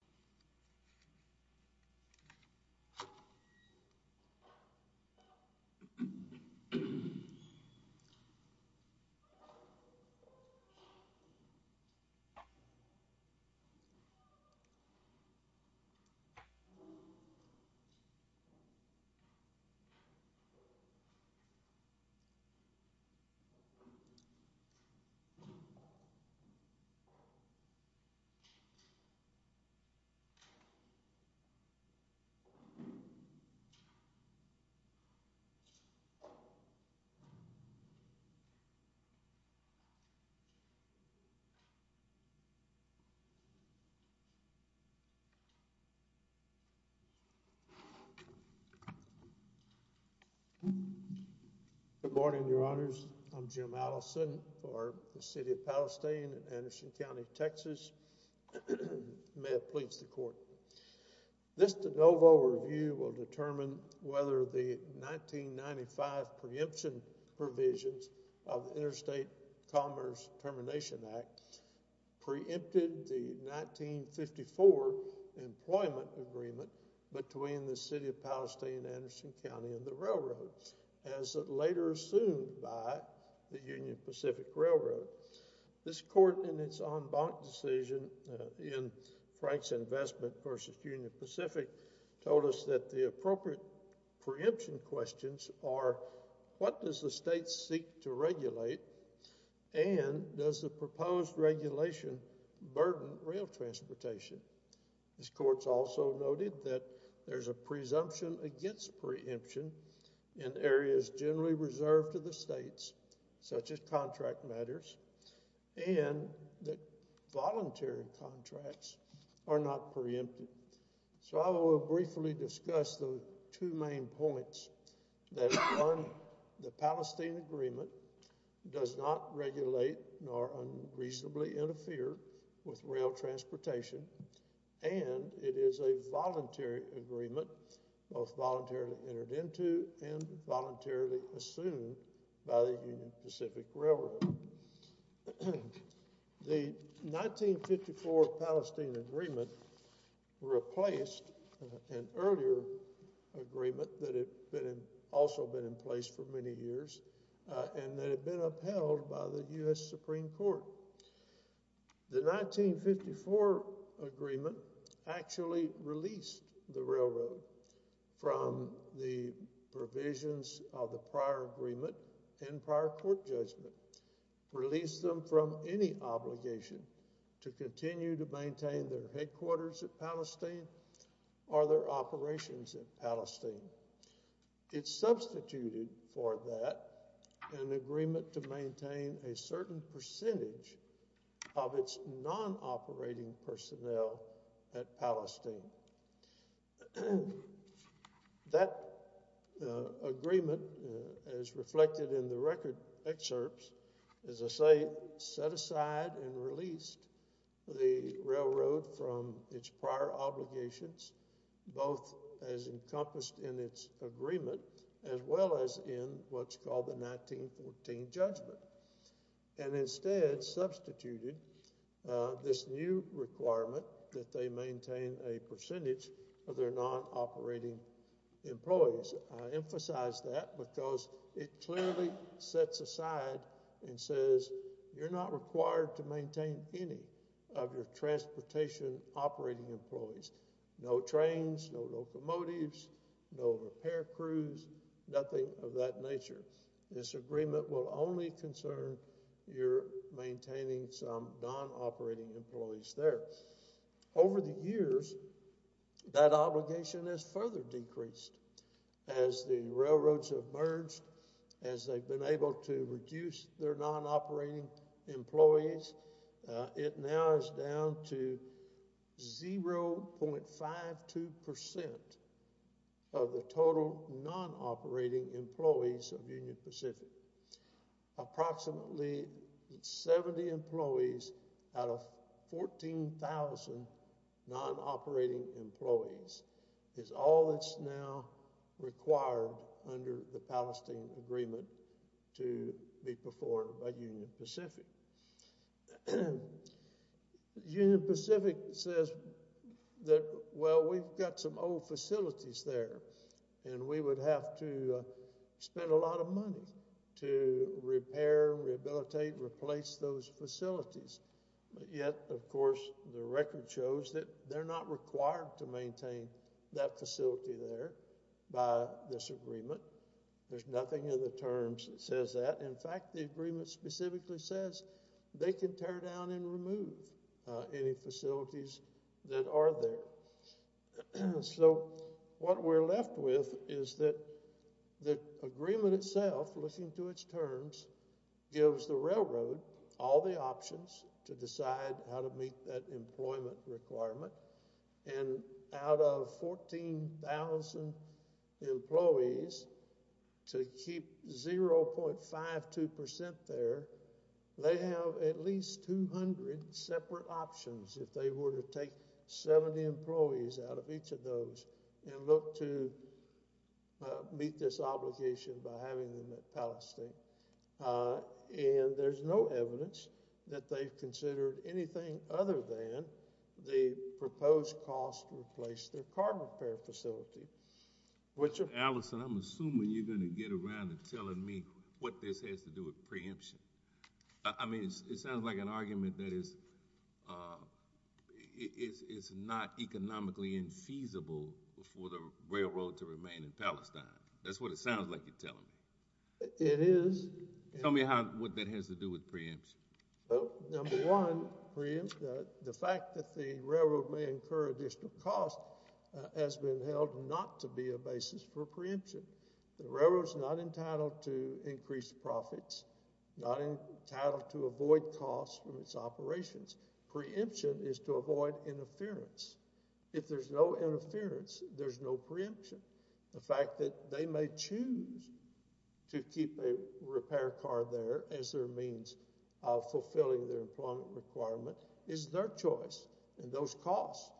RR v. City of Palestine Good morning, Your Honors. I'm Jim Allison for the City of Palestine in Anderson County, Texas. May it please the Court. This de novo review will determine whether the 1995 preemption provisions of the Interstate Commerce Termination Act preempted the 1954 employment agreement between the City of Palestine, Anderson County, and the railroad, as later assumed by the Bonn-Bonk decision in Frank's Investment v. Union Pacific told us that the appropriate preemption questions are, what does the state seek to regulate, and does the proposed regulation burden rail transportation? This Court's also noted that there's a presumption against preemption in areas generally reserved to the states, such as contract matters, and that voluntary contracts are not preempted. So I will briefly discuss the two main points, that one, the Palestine Agreement does not regulate nor unreasonably interfere with rail transportation, and it is a voluntary agreement, both voluntarily entered into and voluntarily assumed by the Union Pacific Railroad. The 1954 Palestine Agreement replaced an earlier agreement that had also been in place for many years, and that had been upheld by the U.S. Supreme Court. The 1954 agreement actually released the railroad from the provisions of the prior agreement and prior court judgment, released them from any obligation to continue to maintain their headquarters at Palestine. That agreement, as reflected in the record excerpts, as I say, set aside and released the railroad from its prior obligations, both as encompassed in its agreement, as well as in what's called the 1914 judgment, and instead substituted this new requirement that they maintain a percentage of their non-operating employees. I emphasize that because it clearly sets aside and says you're not required to maintain any of your transportation operating employees. No trains, no locomotives, no repair crews, nothing of that nature. This agreement will only concern your maintaining some non-operating employees there. Over the years, that obligation has further decreased. As the railroads have merged, as they've been able to reduce their non-operating employees, it now is down to 0.52 percent of the total non-operating employees of Union Pacific. Approximately 70 employees out of 14,000 non-operating employees is all that's now required under the Palestine agreement to be performed by Union Pacific. Union Pacific says that, well, we've got some old facilities there and we would have to spend a lot of money to repair, rehabilitate, replace those facilities. Yet, of course, the record shows that they're not required to maintain that facility there by this agreement. There's nothing in the terms that says that. In fact, the agreement specifically says they can tear down and remove any facilities that are there. So, what we're left with is that the agreement itself, looking to its terms, gives the railroad all the options to decide how to meet that employment requirement. Out of 14,000 employees, to keep 0.52 percent there, they have at least 200 separate options if they were to take 70 employees out of each of those and look to meet this obligation by having them at Palestine. There's no evidence that they've considered anything other than the proposed cost to replace their car repair facility. Allison, I'm assuming you're going to get around to telling me what this has to do with preemption. I mean, it sounds like an argument that is it's not economically infeasible for the railroad to remain in Palestine. That's what it sounds like you're telling me. It is. Tell me what that has to do with preemption. Well, number one, preemption, the fact that the railroad may incur additional cost has been held not to be a basis for preemption. The railroad is not entitled to increase profits, not entitled to avoid costs from its operations. Preemption is to avoid interference. If there's no interference, there's no preemption. The fact that they may choose to keep a repair car there as their means of fulfilling their employment requirement is their choice, and those costs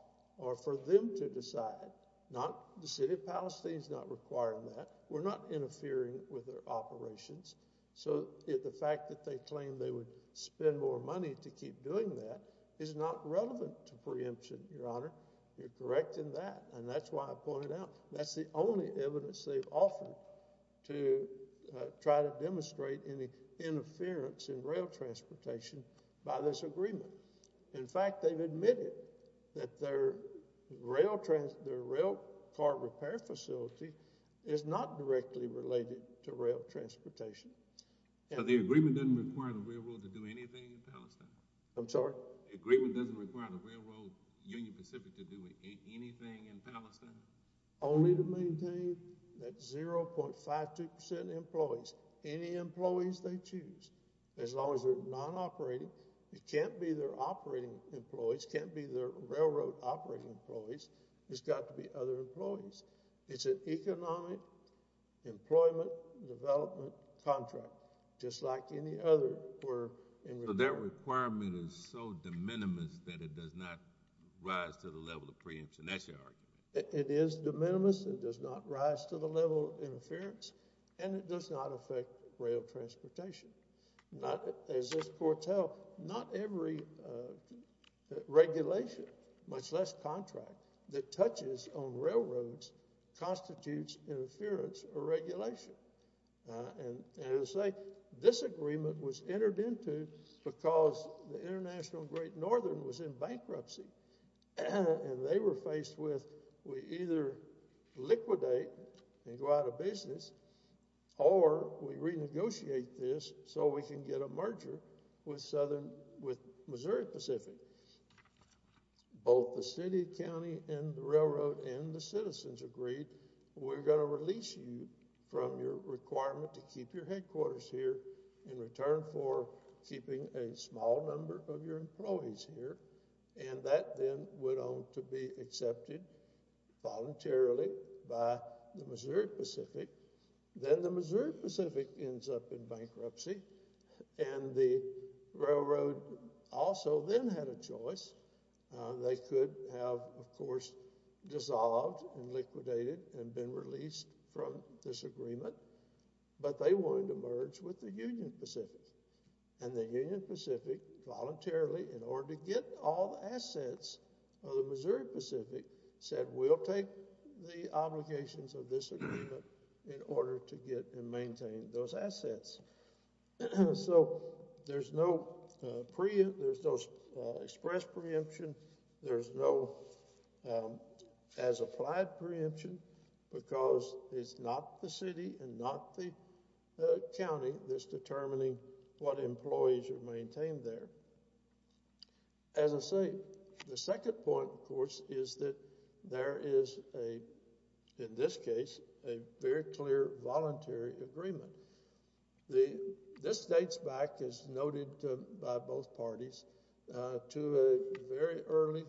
are for them to decide, not the city of Palestine's not requiring that. We're not interfering with their operations. So the fact that they claim they would spend more money to keep doing that is not relevant to preemption, Your Honor. You're correct in that, and that's why I pointed out that's the only evidence they've offered to try to demonstrate any interference in rail transportation by this agreement. In fact, they've admitted that their rail car repair facility is not directly related to rail transportation. So the agreement doesn't require the railroad to do anything in Palestine? I'm sorry? The agreement doesn't require the railroad, Union Pacific, to do anything in Palestine? Only to maintain that 0.52% employees, any employees they choose, as long as they're non-operating. It can't be their operating employees, can't be their railroad operating employees, it's got to be other employees. It's an economic employment development contract, just like any other. So their requirement is so de minimis that it does not rise to the level of preemption, that's your argument? It is de minimis, it does not rise to the level of interference, and it does not affect rail transportation. As this court held, not every regulation, much less contract, that touches on railroads constitutes interference or regulation. And as I say, this agreement was entered into because the International Great Northern was in bankruptcy, and they were faced with we either liquidate and go out of business, or we renegotiate this so we can get a merger with Missouri Pacific. Both the city, county, and the railroad, and the citizens agreed, we're going to release you from your requirement to keep your headquarters here in return for keeping a small number of your employees here, and that then went on to be in bankruptcy. And the railroad also then had a choice. They could have, of course, dissolved and liquidated and been released from this agreement, but they wanted to merge with the Union Pacific, and the Union Pacific voluntarily, in order to get all the assets of the Missouri Pacific, said we'll take the obligations of this agreement in order to get and maintain those assets. So there's no express preemption, there's no as-applied preemption, because it's not the city and not the county that's determining what employees are maintained there. As I say, the second point, of course, is that there is a, in this case, a very clear voluntary agreement. This dates back, as noted by both parties, to a very early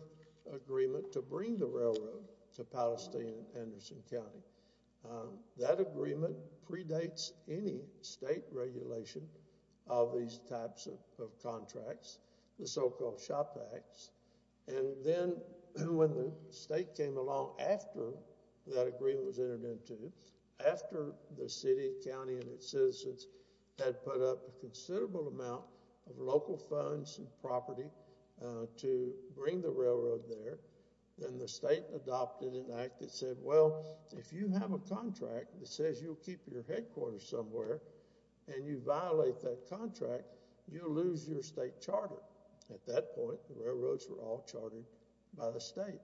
agreement to bring the railroad to Palestine and Anderson County. That agreement predates any state regulation of these types of the so-called shop acts, and then when the state came along after that agreement was entered into, after the city, county, and its citizens had put up a considerable amount of local funds and property to bring the railroad there, then the state adopted an act that said, well, if you have a contract that says you'll keep your headquarters somewhere and you violate that contract, you'll lose your charter. At that point, the railroads were all chartered by the state.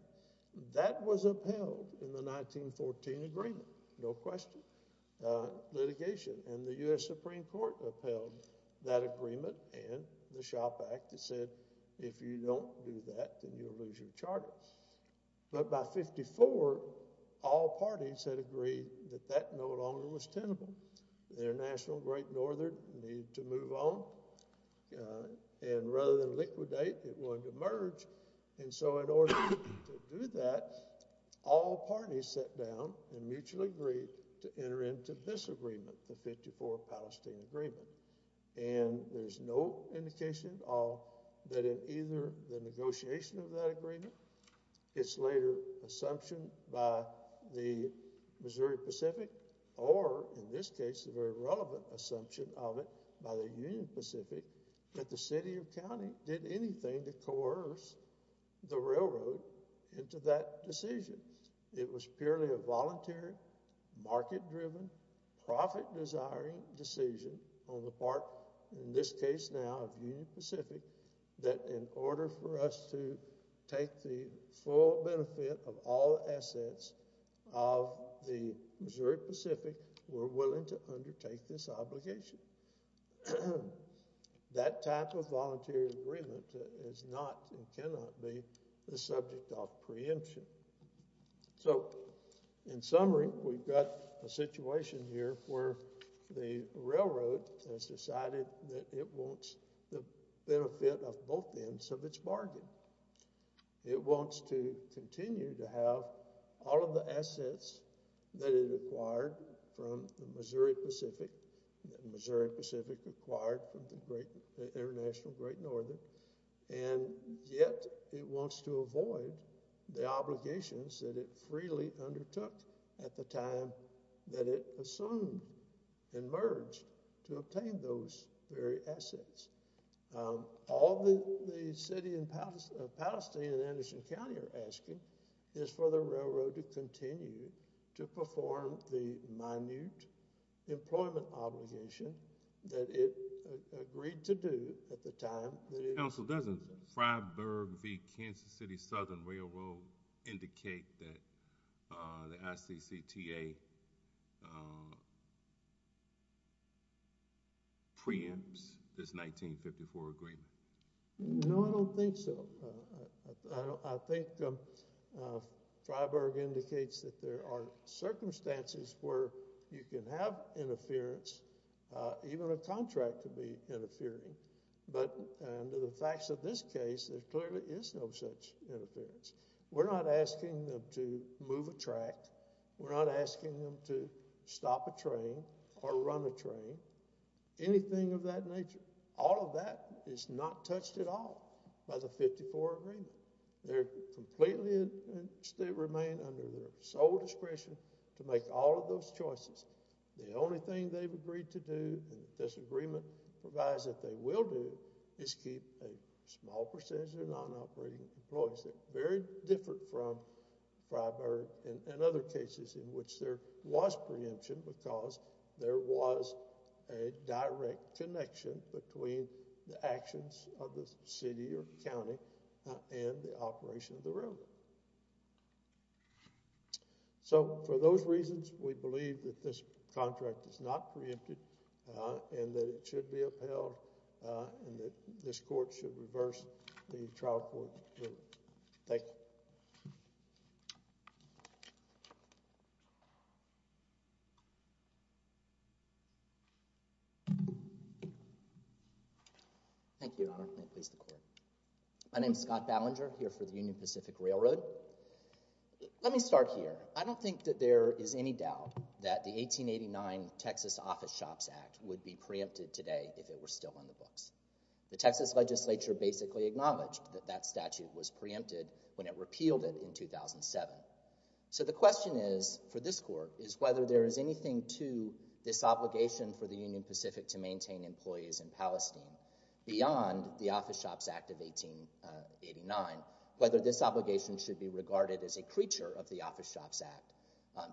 That was upheld in the 1914 agreement, no question, litigation, and the U.S. Supreme Court upheld that agreement and the shop act that said, if you don't do that, then you'll lose your charter. But by 54, all parties had agreed that that no longer was tenable. The International Great Northern needed to move on, and rather than liquidate, it wanted to merge, and so in order to do that, all parties sat down and mutually agreed to enter into this agreement, the 54-Palestine agreement, and there's no indication of that in either the negotiation of that agreement, its later assumption by the Missouri Pacific, or in this case, the very relevant assumption of it by the Union Pacific, that the city or county did anything to coerce the railroad into that decision. It was purely a voluntary, market-driven, profit-desiring decision on the part, in this case now, of Union Pacific, that in order for us to take the full benefit of all assets of the Missouri Pacific, we're willing to undertake this obligation. That type of voluntary agreement is not and cannot be the subject of preemption. So, in summary, we've got a situation here where the railroad has decided that it wants the benefit of both ends of its bargain. It wants to continue to have all of the assets that it acquired from the Missouri Pacific, the Missouri Pacific acquired from the that it freely undertook at the time that it assumed and merged to obtain those very assets. All that the city of Palestine and Anderson County are asking is for the railroad to continue to perform the minute employment obligation that it agreed to do at the time that it— Council, doesn't Freiburg v. Kansas City Southern Railroad indicate that the ICCTA preempts this 1954 agreement? No, I don't think so. I think Freiburg indicates that there are circumstances where you can have interference. Even a contract could be interfering, but under the facts of this case, there clearly is no such interference. We're not asking them to move a track. We're not asking them to stop a train or run a train, anything of that nature. All of that is not touched at all by the The only thing they've agreed to do and this agreement provides that they will do is keep a small percentage of non-operating employees. They're very different from Freiburg and other cases in which there was preemption because there was a direct connection between the actions of the ICCTA and Freiburg. I don't think that this contract is not preempted and that it should be upheld and that this court should reverse the trial court ruling. Thank you. Thank you, Your Honor. My name is Scott Ballinger, here for the Union Pacific Railroad. Let me start here. I don't think that there is any doubt that the 1889 Texas Office Shops Act would be preempted today if it were still on the books. The Texas legislature basically acknowledged that that statute was preempted when it repealed it in 2007. So the question is, for this court, is whether there is anything to this obligation for the Union Pacific to maintain employees in Palestine beyond the Office Shops Act of 1889, whether this obligation should be regarded as a creature of the Office Shops Act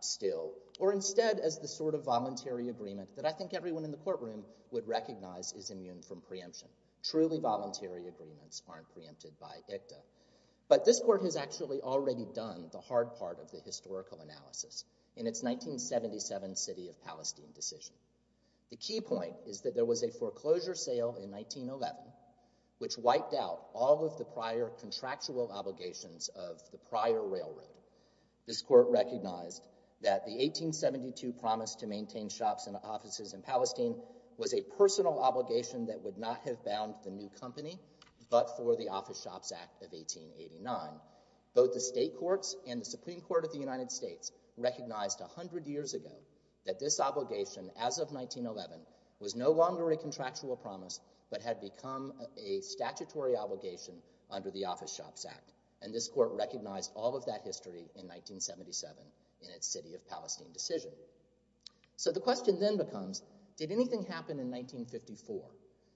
still, or instead as the sort of voluntary agreement that I think everyone in the courtroom would recognize is immune from preemption. Truly voluntary agreements aren't preempted by ICCTA. But this court has actually already done the hard part of the historical analysis in its 1977 city of Palestine decision. The key point is that there was a foreclosure sale in 1911 which wiped out all of the prior contractual obligations of the prior railroad. This court recognized that the 1872 promise to maintain shops and offices in Palestine was a personal obligation that would not have bound the new company but for the Office Shops Act of 1889. Both the state courts and the Supreme Court of the United States recognized 100 years ago that this obligation as of 1911 was no longer a contractual promise but had become a statutory obligation under the Office Shops Act. And this court recognized all of that history in 1977 in its city of Palestine decision. So the question then becomes, did anything happen in 1954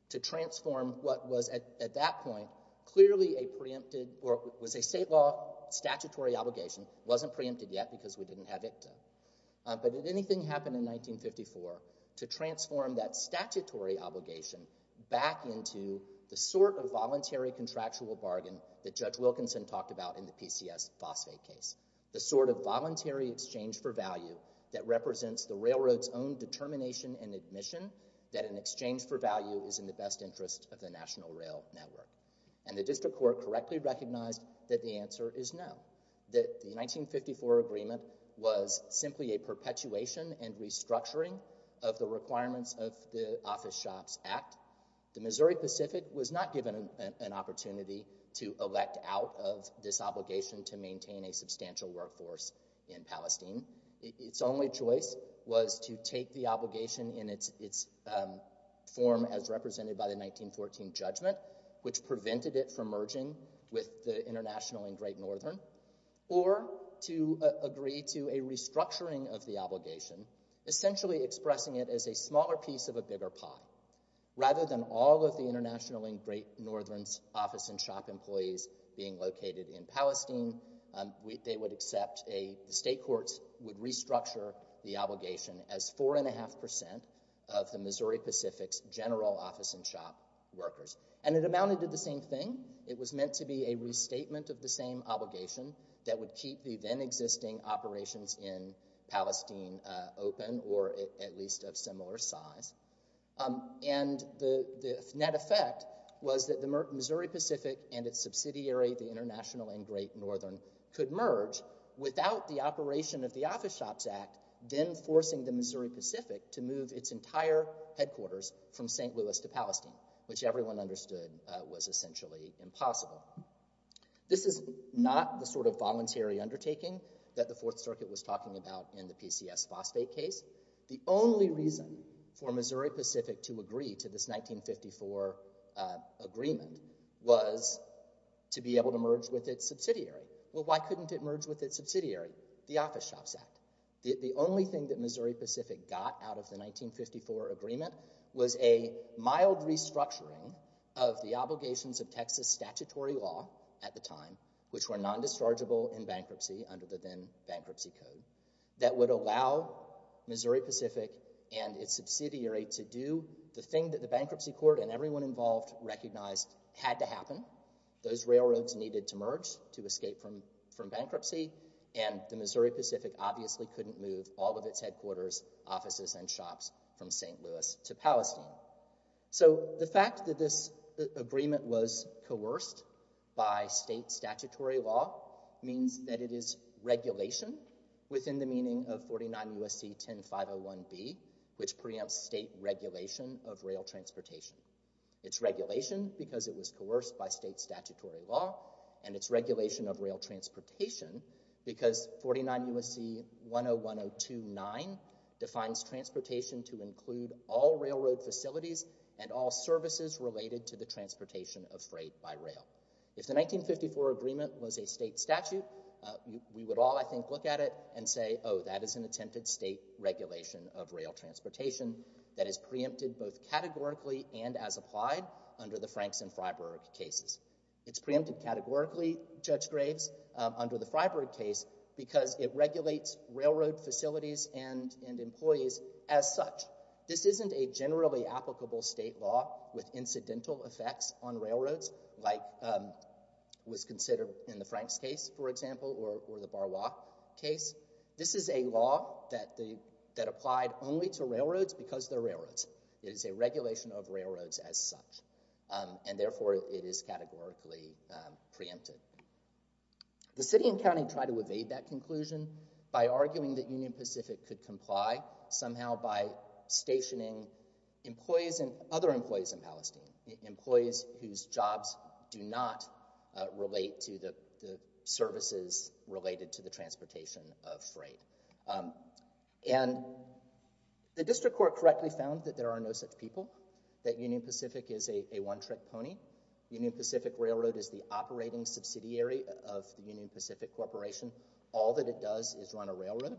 to transform what was at that point clearly a preempted or was a state law statutory obligation wasn't preempted yet because we didn't have ICCTA. But did anything happen in 1954 to transform that statutory obligation back into the sort of voluntary contractual bargain that Judge Wilkinson talked about in the PCS phosphate case. The sort of voluntary exchange for value that represents the railroad's own determination and admission that an exchange for value is in the best interest of the national rail network. And the district court correctly recognized that the answer is no. That the 1954 agreement was simply a perpetuation and restructuring of the requirements of the Office Shops Act. The Missouri Pacific was not given an opportunity to elect out of this obligation to maintain a substantial workforce in Palestine. Its only choice was to take the obligation in its form as represented by the 1914 judgment which prevented it from merging with the International and Great Northern or to agree to a restructuring of the obligation essentially expressing it as a smaller piece of a bigger pie. Rather than all of the International and Great Northern's office and shop employees being located in Palestine, they would accept a state courts would restructure the obligation as four and a half percent of the Missouri Pacific's office and shop workers. And it amounted to the same thing. It was meant to be a restatement of the same obligation that would keep the then existing operations in Palestine open or at least of similar size. And the net effect was that the Missouri Pacific and its subsidiary, the International and Great Northern, could merge without the operation of the Office Shops Act then forcing the Missouri Pacific to move its entire headquarters from St. Louis to Palestine which everyone understood was essentially impossible. This is not the sort of voluntary undertaking that the Fourth Circuit was talking about in the PCS phosphate case. The only reason for Missouri Pacific to agree to this 1954 agreement was to be able to merge with its subsidiary. The only thing that Missouri Pacific got out of the 1954 agreement was a mild restructuring of the obligations of Texas statutory law at the time which were non-dischargeable in bankruptcy under the then bankruptcy code that would allow Missouri Pacific and its subsidiary to do the thing that the bankruptcy court and everyone involved recognized had to happen. Those railroads needed to merge to escape from bankruptcy and the Missouri Pacific obviously couldn't move all of its headquarters, offices, and shops from St. Louis to Palestine. So the fact that this agreement was coerced by state statutory law means that it is regulation within the meaning of 49 USC 10501B which preempts state regulation of rail transportation. It's regulation because it was and it's regulation of rail transportation because 49 USC 101029 defines transportation to include all railroad facilities and all services related to the transportation of freight by rail. If the 1954 agreement was a state statute we would all I think look at it and say oh that is an attempted state regulation of rail transportation that is preempted both categorically and as applied under the Franks and Freiburg cases. It's preempted categorically, Judge Graves, under the Freiburg case because it regulates railroad facilities and employees as such. This isn't a generally applicable state law with incidental effects on railroads like was considered in the Franks case for example or the Barois case. This is a law that applied only to railroads because they're railroads. It is a regulation of railroads as such and therefore it is categorically preempted. The city and county tried to evade that conclusion by arguing that Union Pacific could comply somehow by stationing employees and other employees in Palestine, employees whose jobs do not relate to the services related to the transportation of freight. And the District Court correctly found that there are no such people, that Union Pacific is a one-trick pony. Union Pacific Railroad is the operating subsidiary of the Union Pacific Corporation. All that it does is run a railroad.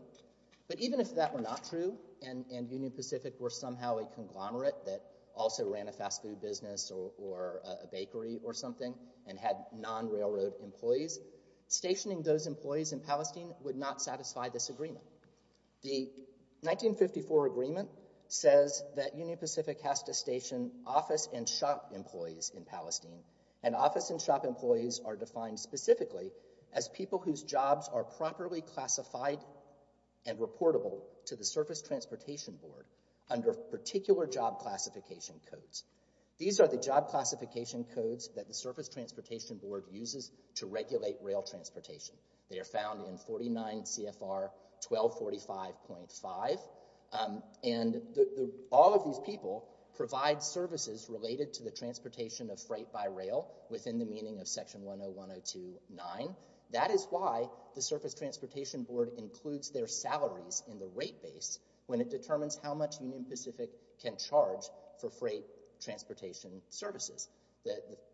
But even if that were not true and Union Pacific were somehow a conglomerate that also ran a fast food business or a bakery or something and had non-railroad employees, stationing those employees in Palestine would not satisfy this agreement. The 1954 agreement says that Union Pacific has to station office and shop employees in Palestine and office and shop employees are defined specifically as people whose jobs are properly classified and reportable to the Surface Transportation Board under particular job classification codes. These are the job classification codes that the Surface Transportation Board uses to regulate rail transportation. They are found in 49 CFR 1245.5 and all of these people provide services related to the transportation of freight by rail within the meaning of Section 101029. That is why the Surface Transportation Board includes their salaries in the rate base when it determines how much Union Pacific can charge for freight transportation services.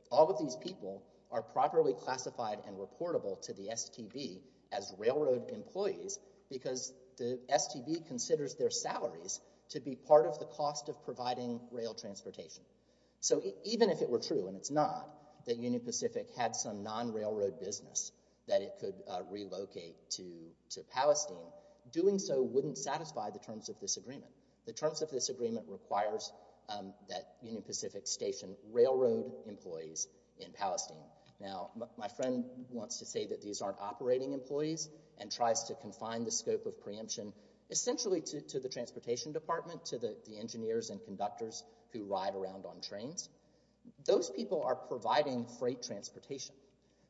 All of these people are properly classified and reportable to the STB as railroad employees because the STB considers their salaries to be part of the cost of providing rail transportation. So even if it were true, and it's not, that Union Pacific had some non-railroad business that it could relocate to Palestine, doing so wouldn't satisfy the terms of this agreement. The terms of this agreement requires that Union Pacific station railroad employees in Palestine. Now my friend wants to say that these aren't operating employees and tries to confine the scope of preemption essentially to the Transportation Department, to the engineers and conductors who ride around on trains. Those people are providing freight transportation,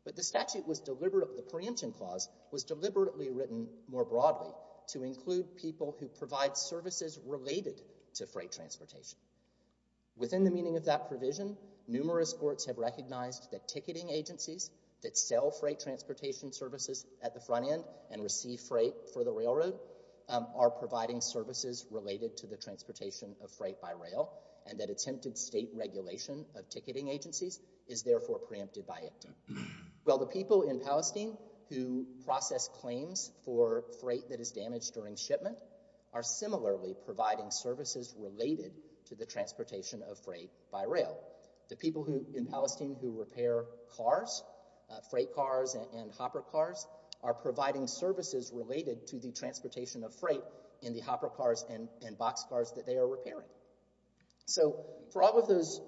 but the statute was deliberate, the preemption clause was deliberately written more broadly to include people who provide services related to freight transportation. Within the meaning of that provision, numerous courts have recognized that ticketing agencies that sell freight transportation services at the front end and receive freight for the railroad are providing services related to the transportation of freight by rail and that attempted state regulation of ticketing agencies is therefore preempted by it. Well the people in Palestine who process claims for freight that is damaged during shipment are similarly providing services related to the transportation of freight by rail. The people who in Palestine who repair cars, freight cars and hopper cars, are providing services related to the transportation of freight in the hopper cars and boxcars that they are repairing. So for all of those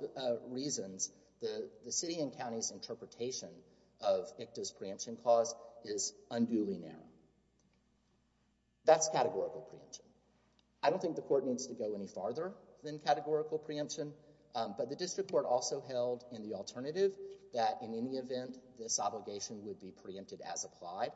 reasons, the city and county's interpretation of ICTA's preemption clause is categorical preemption. I don't think the court needs to go any farther than categorical preemption, but the district court also held in the alternative that in any event this obligation would be preempted as applied.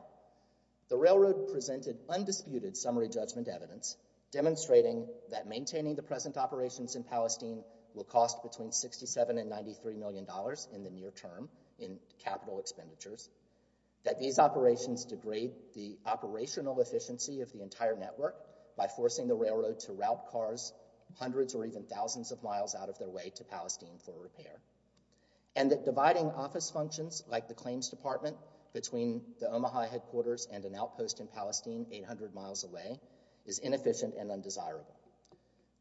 The railroad presented undisputed summary judgment evidence demonstrating that maintaining the present operations in Palestine will cost between 67 and 93 million dollars in the near term in capital expenditures, that these operations degrade the operational efficiency of the entire network by forcing the railroad to route cars hundreds or even thousands of miles out of their way to Palestine for repair, and that dividing office functions like the claims department between the Omaha headquarters and an outpost in Palestine 800 miles away is inefficient and undesirable.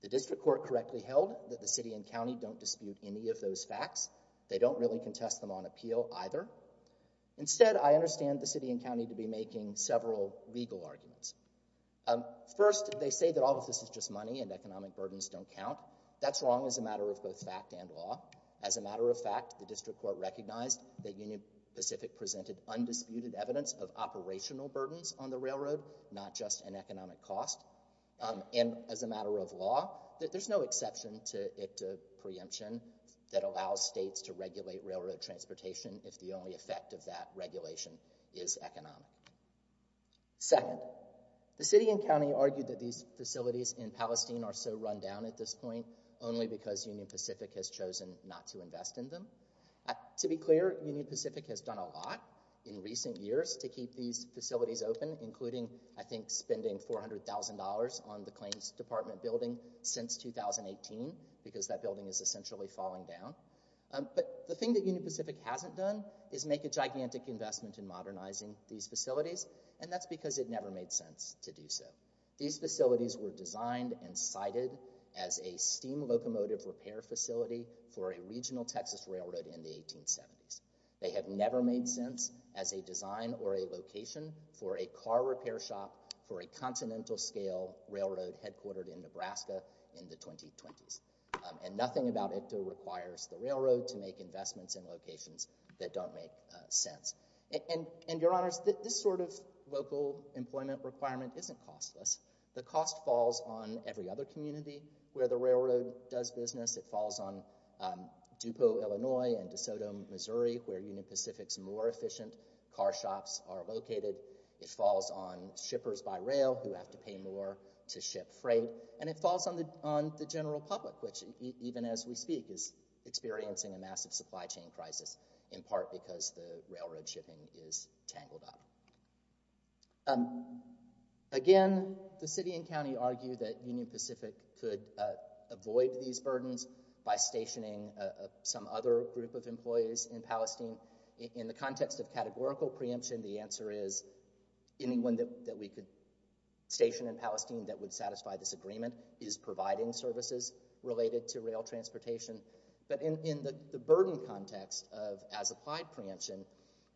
The district court correctly held that the city and county don't dispute any of those facts. They don't really contest them on appeal either. Instead, I understand the city and county to be making several legal arguments. First, they say that all of this is just money and economic burdens don't count. That's wrong as a matter of both fact and law. As a matter of fact, the district court recognized that Union Pacific presented undisputed evidence of operational burdens on the railroad, not just an economic cost. And as a matter of law, there's no exception to ICTA preemption that allows states to regulate railroad transportation if the only effect of that regulation is economic. Second, the city and county argued that these facilities in Palestine are so run down at this point only because Union Pacific has chosen not to invest in them. To be clear, Union Pacific has done a lot in recent years to keep these facilities open, including, I think, spending $400,000 on the claims department building since 2018, because that building is essentially falling down. But the thing that Union Pacific hasn't done is make a gigantic investment in modernizing these facilities, and that's because it never made sense to do so. These facilities were designed and cited as a steam locomotive repair facility for a regional Texas railroad in the 1870s. They have never made sense as a design or a location for a car repair shop for a continental scale railroad headquartered in Nebraska in the 2020s. And nothing about ICTA requires the railroad to make investments in locations that don't make sense. And, your honors, this sort of local employment requirement isn't costless. The cost falls on every other community where the railroad does business. It falls on Dupo, Illinois and DeSoto, Missouri, where Union Pacific's more efficient car shops are located. It falls on shippers by rail who have to pay more to ship freight. And it falls on the general public, which, even as we speak, is experiencing a massive supply chain crisis, in part because the railroad shipping is tangled up. Again, the city and county argue that Union Pacific could avoid these burdens by stationing some other group of employees in Palestine. In the context of categorical preemption, the answer is anyone that we could station in Palestine that would satisfy this agreement is providing services related to rail transportation. But in the burden context of as-applied preemption,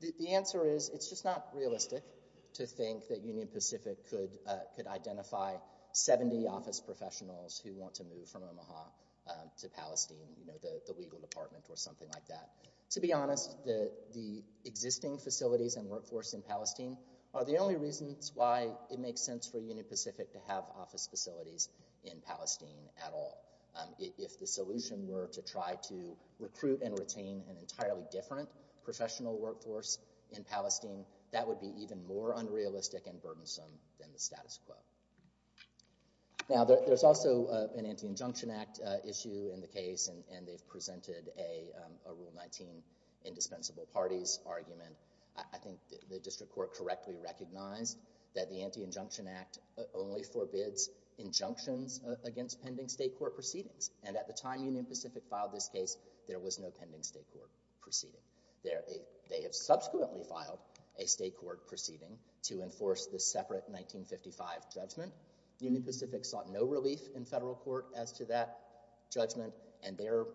the answer is it's just not realistic to think that Union Pacific could identify 70 office professionals who want to move from Omaha to Palestine, you know, the legal department or something like that. To be honest, the existing facilities and workforce in Palestine are the only reasons why it makes sense for Union Pacific to have office facilities in Palestine at all. If the solution were to try to recruit and retain an entirely different professional workforce in Palestine, that would be even more unrealistic and burdensome than the status quo. Now, there's also an Anti-Injunction Act issue in the case, and they've presented a Rule 19 indispensable parties argument. I think the District Court correctly recognized that the Anti-Injunction Act only forbids injunctions against pending state court proceedings. And at the time Union Pacific filed this case, there was no pending state court proceeding. They have subsequently filed a state court proceeding to enforce the separate 1955 judgment. Union Pacific sought no relief in federal court as to that judgment, and their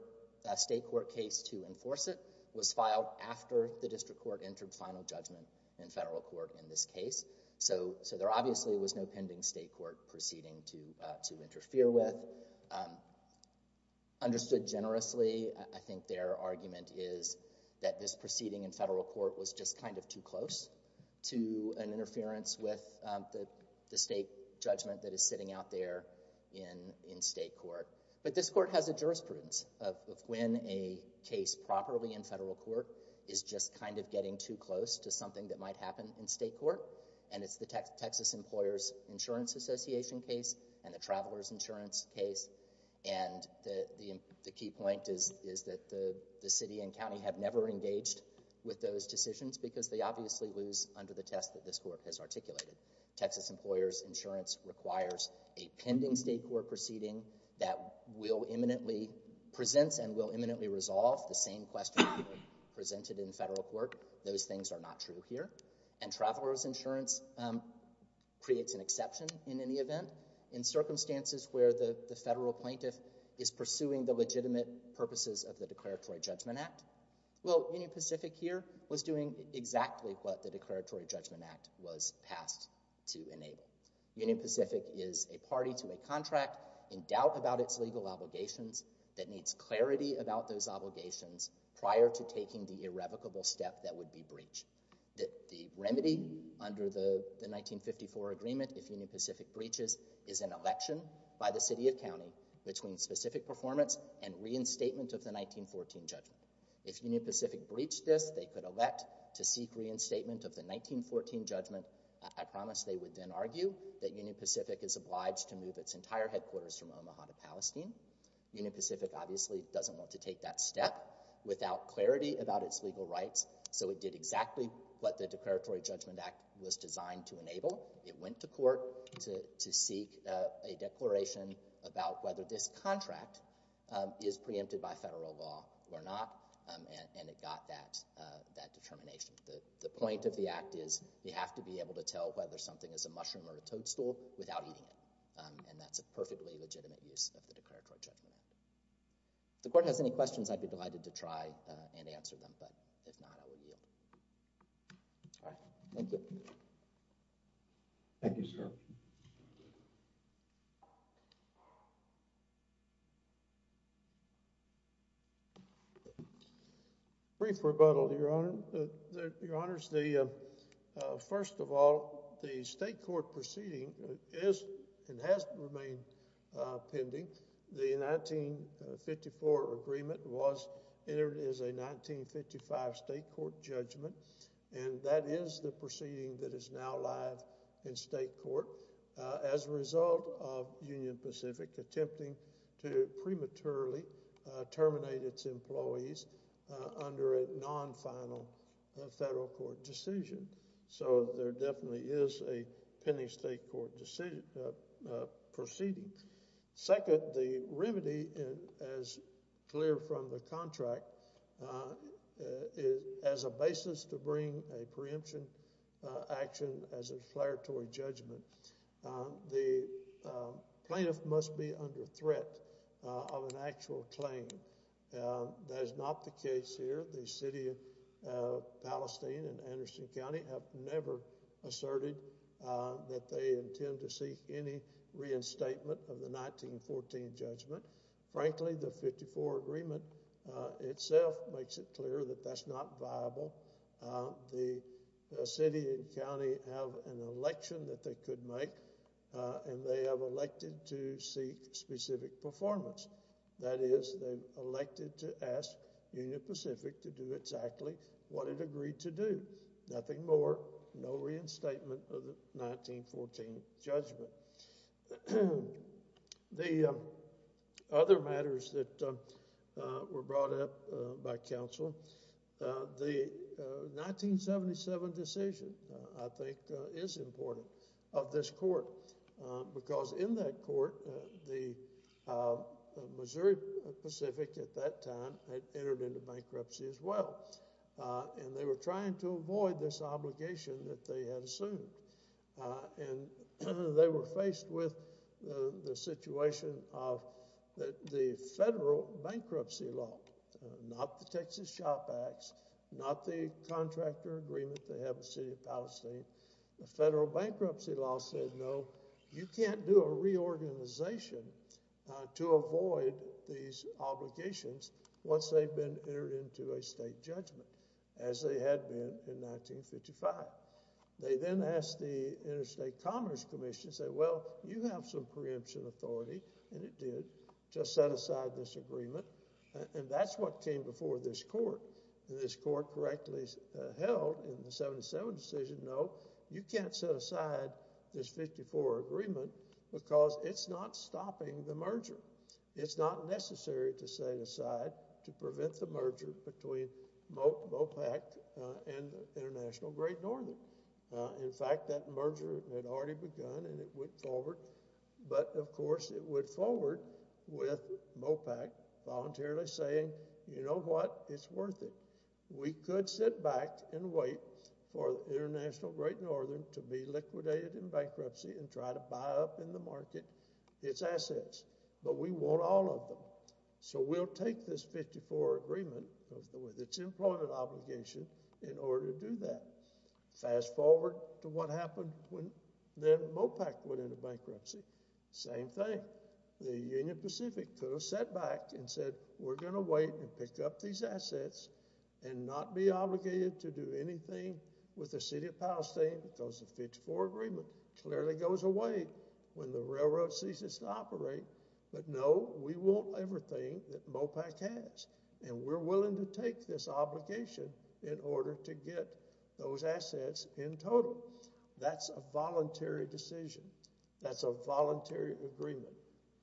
state court case to enforce it was filed after the District Court entered final judgment in federal court in this case. So there obviously was no pending state court proceeding to enforce that judgment. The other argument is that this proceeding in federal court was just kind of too close to an interference with the state judgment that is sitting out there in state court. But this court has a jurisprudence of when a case properly in federal court is just kind of getting too close to something that might happen in state court. And it's the Texas Employers Insurance Association case and the Travelers Insurance case. And the key point is that the city and county have never engaged with those decisions because they obviously lose under the test that this court has articulated. Texas Employers Insurance requires a pending state court proceeding that will imminently present and will imminently resolve the same question presented in federal court. Those things are not true here. And Travelers Insurance creates an exception in any event in circumstances where the federal plaintiff is pursuing the legitimate purposes of the Declaratory Judgment Act. Well, Union Pacific here was doing exactly what the Declaratory Judgment Act was passed to enable. Union Pacific is a party to a contract in doubt about its legal obligations that needs clarity about those obligations prior to taking the irrevocable step that would be breach. The remedy under the 1954 agreement, if Union Pacific breaches, is an election by the city and county between specific performance and reinstatement of the 1914 judgment. If Union Pacific breached this, they could elect to seek reinstatement of the 1914 judgment. I promise they would then argue that Union Pacific is obliged to move its entire headquarters from to take that step without clarity about its legal rights. So it did exactly what the Declaratory Judgment Act was designed to enable. It went to court to seek a declaration about whether this contract is preempted by federal law or not. And it got that determination. The point of the act is you have to be able to tell whether something is a mushroom or a toadstool without eating it. And that's a perfectly legitimate use of the Declaratory Judgment Act. If the court has any questions, I'd be delighted to try and answer them. But if not, I will yield. All right. Thank you. Thank you, sir. Brief rebuttal, Your Honor. Your Honors, first of all, the state court proceeding is and has remained pending. The 1954 agreement was entered as a 1955 state court judgment. And that is the proceeding that is now live in state court as a result of Union Pacific attempting to prematurely terminate its employees under a non-final federal court decision. So there definitely is a pending state court proceeding. Second, the remedy, as clear from the contract, as a basis to bring a preemption action as a declaratory judgment, the plaintiff must be under threat of an actual claim. That is not the case here. The City of Palestine and Anderson County have never asserted that they intend to seek any reinstatement of the 1914 judgment. Frankly, the 1954 agreement itself makes it clear that that's not viable. The city and county have an election that they could make, and they have elected to seek specific performance. That is, they've elected to ask Union Pacific to do exactly what it agreed to do. Nothing more, no reinstatement of the 1914 judgment. The other matters that were brought up by counsel, the 1977 decision, I think, is important of this court because in that court, the Union Pacific, at that time, had entered into bankruptcy as well, and they were trying to avoid this obligation that they had assumed. And they were faced with the situation of the federal bankruptcy law, not the Texas SHOP Acts, not the contractor agreement to have a City of Palestine. The federal bankruptcy law said, no, you can't do a reorganization to avoid these obligations once they've been entered into a state judgment, as they had been in 1955. They then asked the Interstate Commerce Commission, said, well, you have some preemption authority, and it did, just set aside this agreement, and that's what came before this court. And this court correctly held in the 1977 decision, no, you can't set aside this 54 agreement because it's not stopping the merger. It's not necessary to set it aside to prevent the merger between MOPAC and the International Great Northern. In fact, that merger had already begun, and it went forward. But, of course, it went forward with MOPAC voluntarily saying, you know what, it's worth it. We could sit back and wait for the International Great Northern to be liquidated in bankruptcy and try to buy up in the market its assets, but we want all of them. So we'll take this 54 agreement with its employment obligation in order to do that. Fast forward to what happened when then MOPAC went into bankruptcy. Same thing. The Union Pacific could have sat back and said, we're going to wait and pick up these assets and not be obligated to do anything with the City of Palestine because the 54 agreement clearly goes away when the railroad ceases to operate. But no, we want everything that MOPAC has, and we're willing to take this obligation in order to get those assets in total. That's a voluntary decision. That's a voluntary agreement.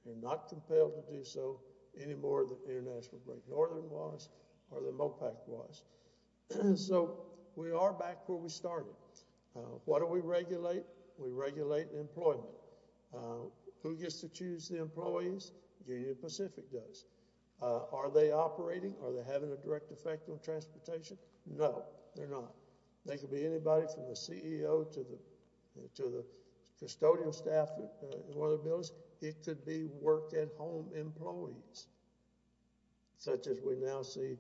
They're not compelled to do so anymore than International Great Northern was or than MOPAC was. So we are back where we started. What do we regulate? We regulate employment. Who gets to choose the employees? Union Pacific does. Are they operating? Are they having a direct effect on transportation? No, they're not. They could be anybody from the CEO to the custodial staff in one of the home employees, such as we now see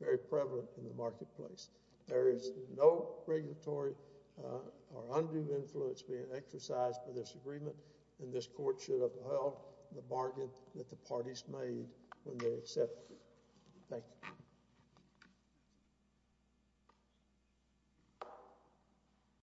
very prevalent in the marketplace. There is no regulatory or undue influence being exercised for this agreement, and this Court should have held the bargain that the parties made when they accepted it. Thank you.